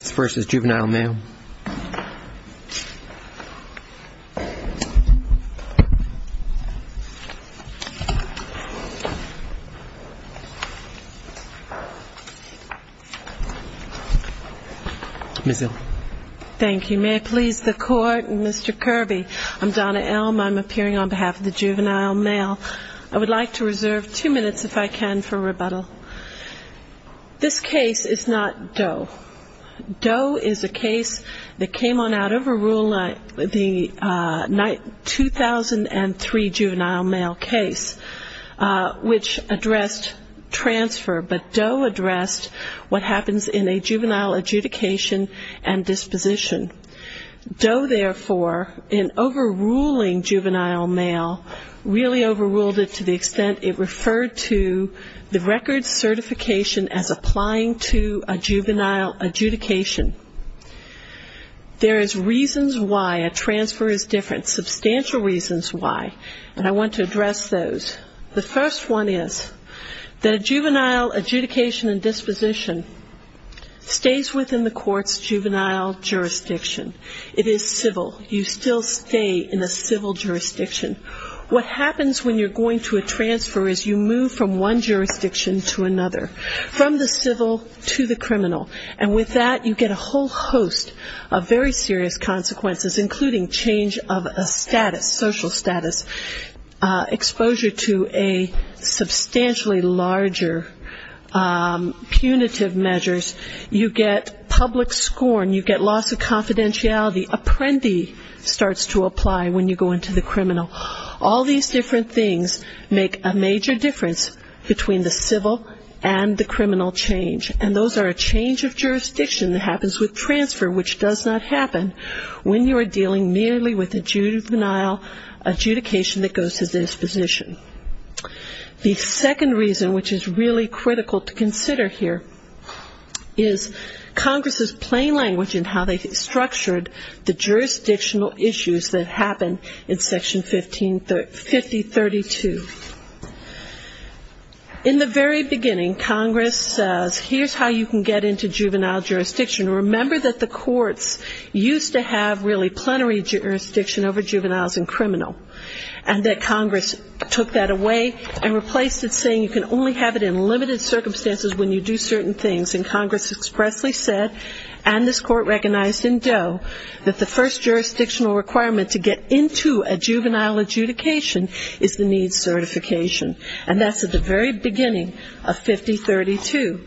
Thank you. May it please the court, and Mr. Kirby, I'm Donna Elm. I'm appearing on behalf of the juvenile male. I would like to reserve two minutes if I can for rebuttal. This case is not Doe. Doe is a case that came on out of a rule in the 2003 juvenile male case which addressed transfer, but Doe addressed what happens in a juvenile adjudication and disposition. Doe therefore, in overruling juvenile male, really overruled it to the extent it referred to the record certification as applying to a juvenile adjudication. There is reasons why a transfer is different, substantial reasons why, and I want to address those. The first one is that a juvenile adjudication and disposition stays within the court's juvenile jurisdiction. It is civil. You still stay in a civil jurisdiction. What happens when you're going to a transfer is you move from one jurisdiction to another, from the civil to the criminal. And with that, you get a whole host of very serious consequences, including change of a status, social status, exposure to a substantially larger punitive measures. You get public scorn. You get loss of confidentiality. Apprendi starts to apply when you go into the criminal. All these different things make a major difference between the civil and the criminal change, and those are a change of jurisdiction that happens with transfer which does not happen when you are dealing merely with a juvenile adjudication that goes to disposition. The second reason which is really critical to consider here is Congress's plain language in how they structured the jurisdictional issues that happen in Section 5032. In the very beginning, Congress says, here's how you can get into juvenile jurisdiction. Remember that the courts used to have really plenary jurisdiction over juveniles and criminal, and that Congress took that away and replaced it saying you can only have it in limited jurisdiction. Congress recognized in Doe that the first jurisdictional requirement to get into a juvenile adjudication is the needs certification, and that's at the very beginning of 5032.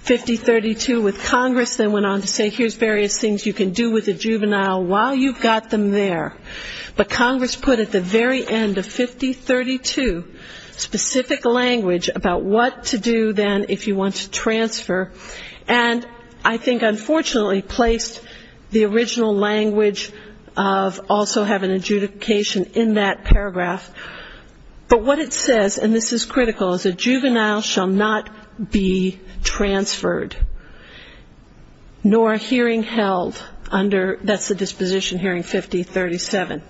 5032 with Congress then went on to say here's various things you can do with a juvenile while you've got them there. But Congress put at the very end of 5032 specific language about what to do then if you want to transfer, and I think unfortunately placed the original language of also have an adjudication in that paragraph. But what it says, and this is critical, is a juvenile shall not be transferred nor hearing held under, that's the disposition hearing 5037.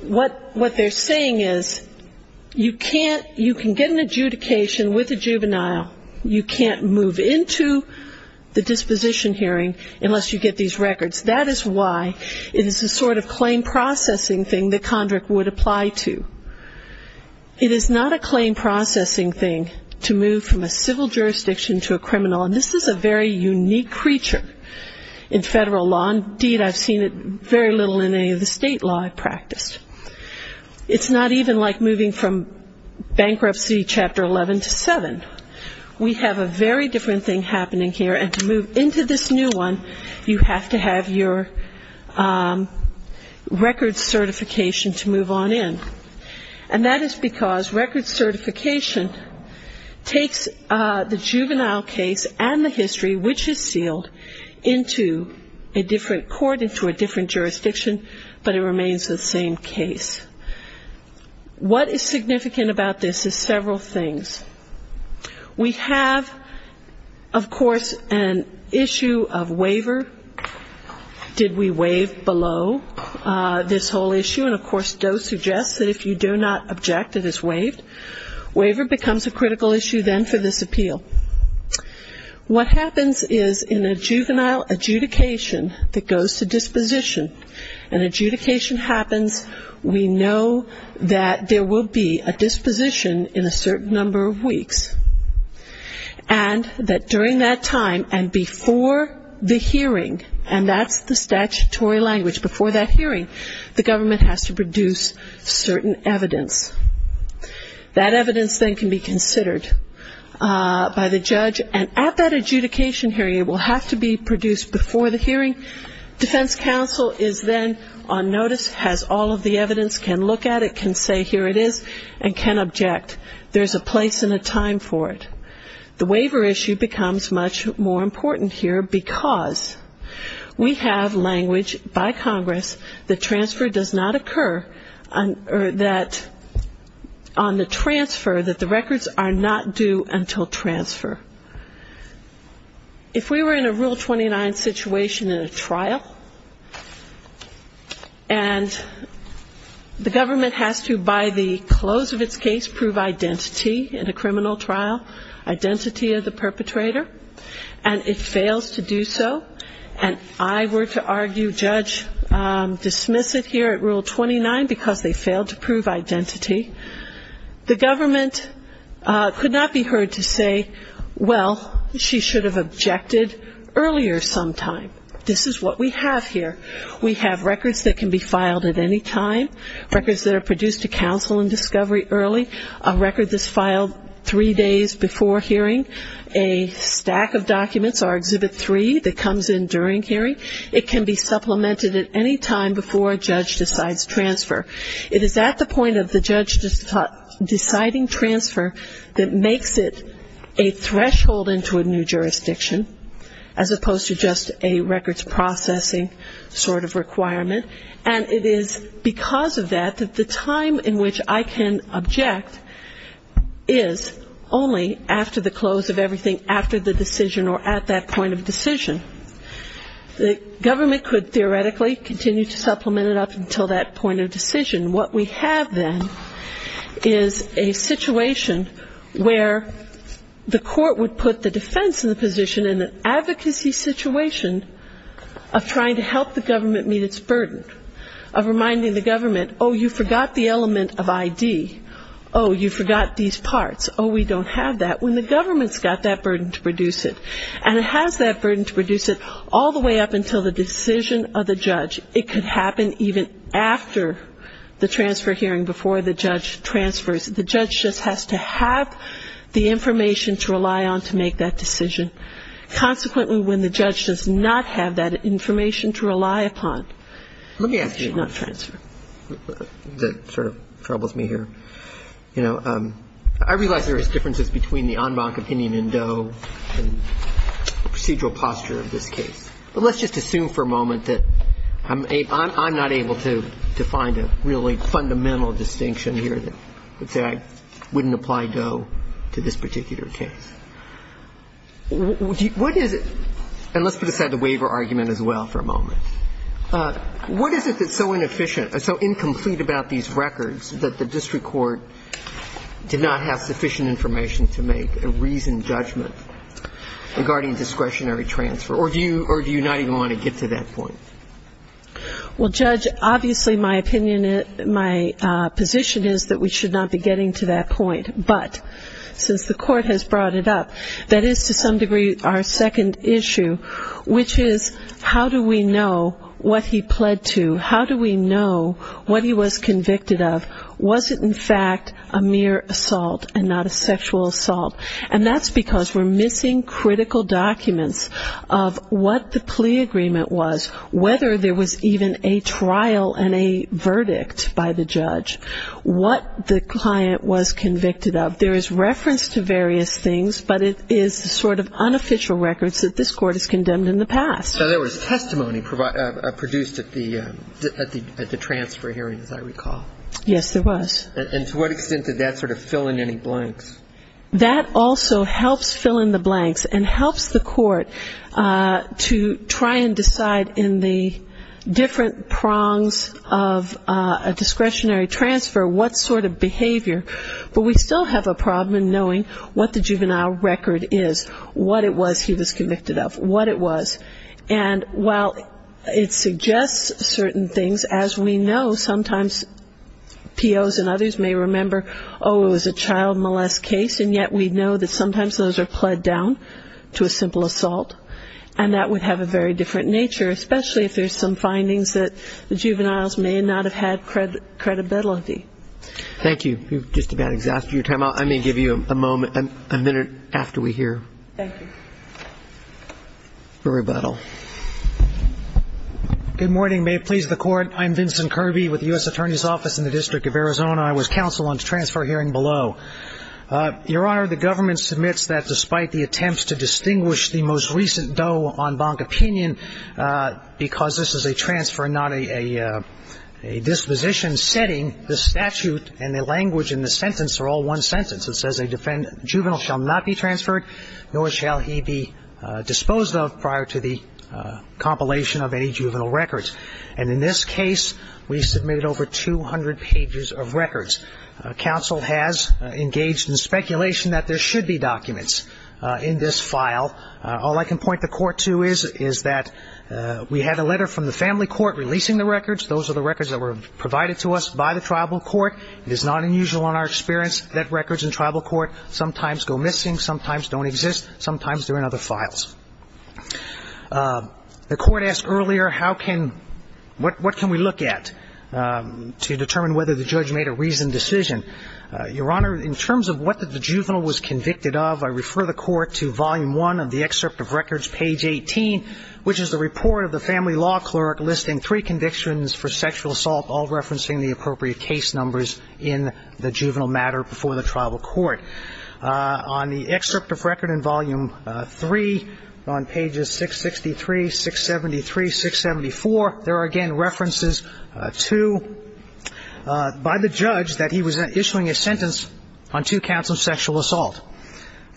What they're saying is you can't, you can get an adjudication with a juvenile, you can't move into the disposition hearing unless you get these records. That is why it is a sort of claim processing thing that Condrick would apply to. It is not a claim processing thing to move from a civil jurisdiction to a criminal, and this is a very unique creature in federal law. Indeed, I've seen it very little in any of the state law I've practiced. It's not even like moving from bankruptcy Chapter 11 to 7. We have a very different thing happening here, and to move into this new one, you have to have your record certification to move on in. And that is because record certification takes the juvenile case and the history, which is sealed, into a different court, into a different jurisdiction, but it remains the same case. What is significant about this is several things. We have, of course, an issue of waiver. Did we waive below this whole issue? And of course, DOE suggests that if you do not object, it is waived. Waiver becomes a critical issue then for this appeal. What happens is in a disposition, an adjudication happens. We know that there will be a disposition in a certain number of weeks, and that during that time and before the hearing, and that's the statutory language, before that hearing, the government has to produce certain evidence. That evidence then can be considered by the judge, and at that adjudication hearing, it will have to be produced before the hearing. Defense counsel is then on notice, has all of the evidence, can look at it, can say here it is, and can object. There's a place and a time for it. The waiver issue becomes much more important here because we have language by Congress that transfer does not occur, or that on the transfer, that the records are not due until transfer. If we were in a Rule 29 situation in a trial, and the government has to, by the close of its case, prove identity in a criminal trial, identity of the perpetrator, and it fails to do so, and I were to argue, judge, dismiss it here at Rule 29 because they failed to say, well, she should have objected earlier sometime. This is what we have here. We have records that can be filed at any time, records that are produced to counsel in discovery early, a record that's filed three days before hearing, a stack of documents, our Exhibit 3, that comes in during hearing. It can be supplemented at any time before a judge decides transfer. It is at the point of the judge deciding transfer that makes it a threshold into a new jurisdiction, as opposed to just a records processing sort of requirement. And it is because of that that the time in which I can object is only after the close of everything after the decision or at that point of decision. The government could theoretically continue to supplement it up until that point of decision. What we have then is a situation where the court would put the defense in the position in an advocacy situation of trying to help the government meet its burden, of reminding the government, oh, you forgot the element of ID, oh, you forgot these parts, oh, we don't have that, when the government's got that burden to produce it. And it has that burden to produce it all the way up until the decision of the judge. It could happen even after the transfer hearing, before the judge transfers. The judge just has to have the information to rely on to make that decision. Consequently, when the judge does not have that information to rely upon, it should not transfer. I think that sort of troubles me here. You know, I realize there is differences between the en banc opinion in Doe and the procedural posture of this case. But let's just assume for a moment that I'm not able to find a really fundamental distinction here that would say I wouldn't apply Doe to this particular case. What is it, and let's put aside the waiver argument as well for a moment. What is it that's so inefficient, so incomplete about these records, that the district court did not have sufficient information to make a reasoned judgment regarding discretionary transfer? Or do you not even want to get to that point? Well, Judge, obviously my opinion, my position is that we should not be getting to that point. But since the court has brought it up, that is to some degree our second issue, which is how do we know what he pled to? How do we know what he was convicted of? Was it in fact a mere assault and not a sexual assault? And that's because we're missing critical documents of what the plea agreement was, whether there was even a trial and a verdict by the judge, what the client was convicted of. There is reference to various things, but it is the sort of unofficial records that this court has condemned in the past. So there was testimony produced at the transfer hearing, as I recall. Yes, there was. And to what extent did that sort of fill in any blanks? That also helps fill in the blanks and helps the court to try and decide in the different prongs of a discretionary transfer what sort of behavior. But we still have a problem in knowing what the juvenile record is, what it was he was convicted of, what it was. And while it suggests certain things, as we know, sometimes POs and others may remember, oh, it was a child molest case, and yet we know that sometimes those are pled down to a simple assault. And that would have a very different nature, especially if there's some findings that the juveniles may not have had credibility. Thank you. We've just about exhausted your time. I may give you a moment, a minute, after we hear. Thank you. For rebuttal. Good morning. May it please the Court. I'm Vincent Kirby with the U.S. Attorney's Office in the District of Arizona. I was counsel on the transfer hearing below. Your Honor, the government submits that despite the attempts to distinguish the most recent Doe on Bonk opinion, because this is a transfer and not a disposition setting, the statute and the language in the sentence are all one sentence. It says a juvenile shall not be transferred, nor shall he be disposed of prior to the compilation of any juvenile record. And in this case, we submitted over 200 pages of records. Counsel has engaged in speculation that there should be documents in this file. All I can point the Court to is that we had a letter from the family court releasing the records. Those are the records that were provided to us by the tribal court. It is not unusual in our experience that records in tribal court sometimes go missing, sometimes don't exist, sometimes they're in other files. The Court asked earlier how can, what can we look at to determine whether the judge made a reasoned decision. Your Honor, in terms of what the juvenile was convicted of, I refer the Court to volume one of the excerpt of records, page 18, which is the report of the family law clerk listing three convictions for sexual assault, all referencing the appropriate case numbers in the juvenile matter before the tribal court. On the excerpt of record in volume three, on pages 663, 673, 674, there are, again, references to, by the judge, that he was issuing a sentence on two counts of sexual assault.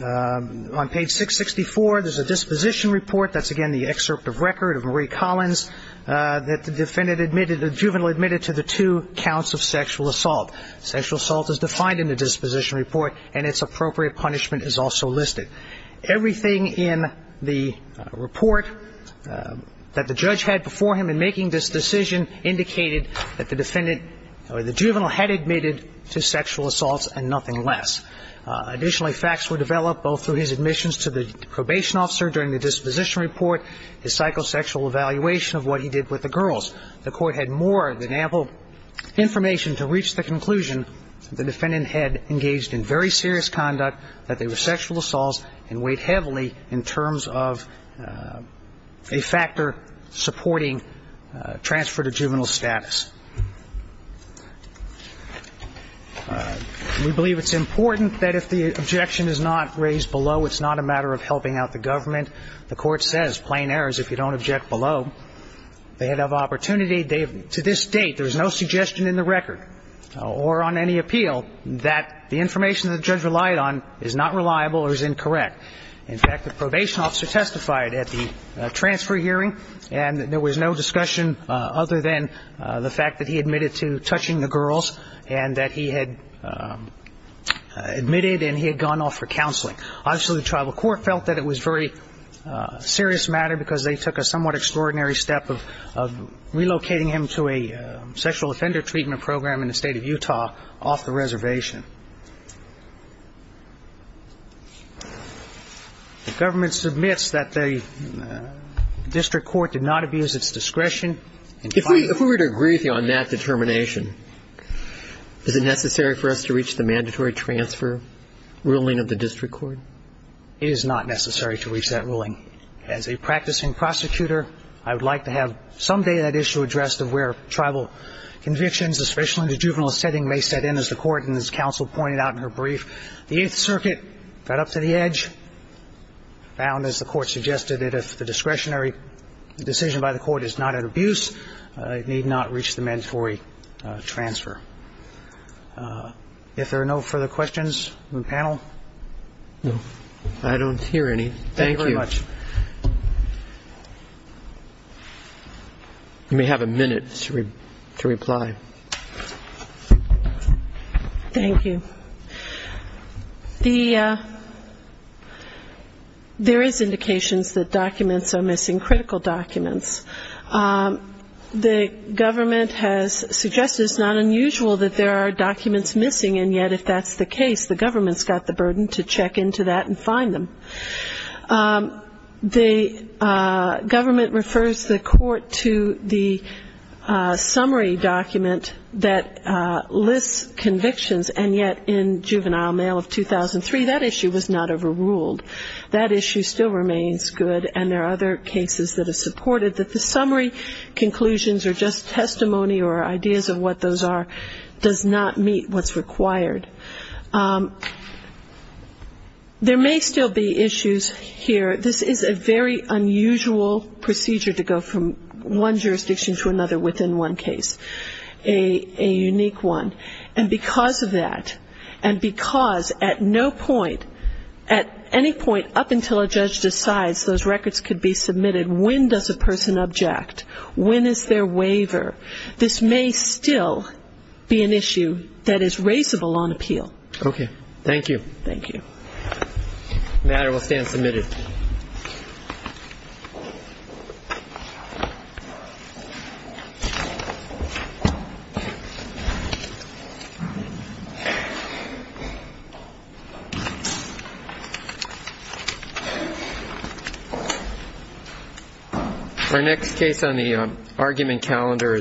On page 664, there's a disposition report, that's, again, the excerpt of record of Marie Collins, that the defendant admitted, the juvenile admitted to the two counts of sexual assault. Sexual assault is defined in the disposition report and its appropriate punishment is also listed. Everything in the report that the judge had before him in making this decision indicated that the defendant, or the juvenile had admitted to sexual assaults and nothing less. Additionally, facts were developed both through his admissions to the probation officer during the disposition report, his psychosexual evaluation of what he did with the girls. The Court had more than ample information to reach the conclusion that the defendant had engaged in very serious conduct, that they were sexual assaults, and weighed heavily in terms of a factor supporting transfer to juvenile status. We believe it's important that if the objection is not raised below, it's not a matter of helping out the government. The Court says plain errors if you don't object below. They have opportunity. To this date, there's no suggestion in the record or on any appeal that the information the judge relied on is not reliable or is incorrect. In fact, the probation officer testified at the transfer hearing and there was no discussion other than the fact that he admitted to touching the girls and that he had admitted and he had gone off for counseling. Obviously, the Tribal Court felt that it was a very serious matter because they took a somewhat extraordinary step of relocating him to a sexual offender treatment program in the state of Utah off the reservation. The government submits that the district court did not abuse its discretion. If we were to agree on that determination, is it necessary for us to reach the mandatory transfer ruling of the district court? It is not necessary to reach that ruling. As a practicing prosecutor, I would like to have someday that issue addressed of where Tribal convictions, especially in the juvenile setting, may set in as the Court and as counsel pointed out in her brief. The Eighth Circuit got up to the edge, found, as the Court suggested, that if the discretionary decision by the Court is not an abuse, it need not reach the mandatory transfer. If there are no further questions from the panel? No. I don't hear any. Thank you. Thank you very much. You may have a minute to reply. Thank you. There is indications that documents are missing, critical documents. The government has suggested it's not unusual that there are documents missing, and yet, if that's the case, the government's got the burden to check into that and find them. The government refers the Court to the summary document that lists convictions, and yet, in Juvenile Mail of 2003, that issue was not overruled. That issue still remains good, and there are other cases that have supported that the summary conclusions are just testimony or ideas of what those are, does not meet what's required. There may still be issues here. This is a very unusual procedure to go from one jurisdiction to another within one case, a unique one, and because of that, and because at no point, at any point up until a judge decides those records could be submitted, when does a person object, when is there waiver, this may still be an issue that is raisable on appeal. Okay. Thank you. Thank you. The matter will stand submitted. Thank you. Our next case on the argument calendar is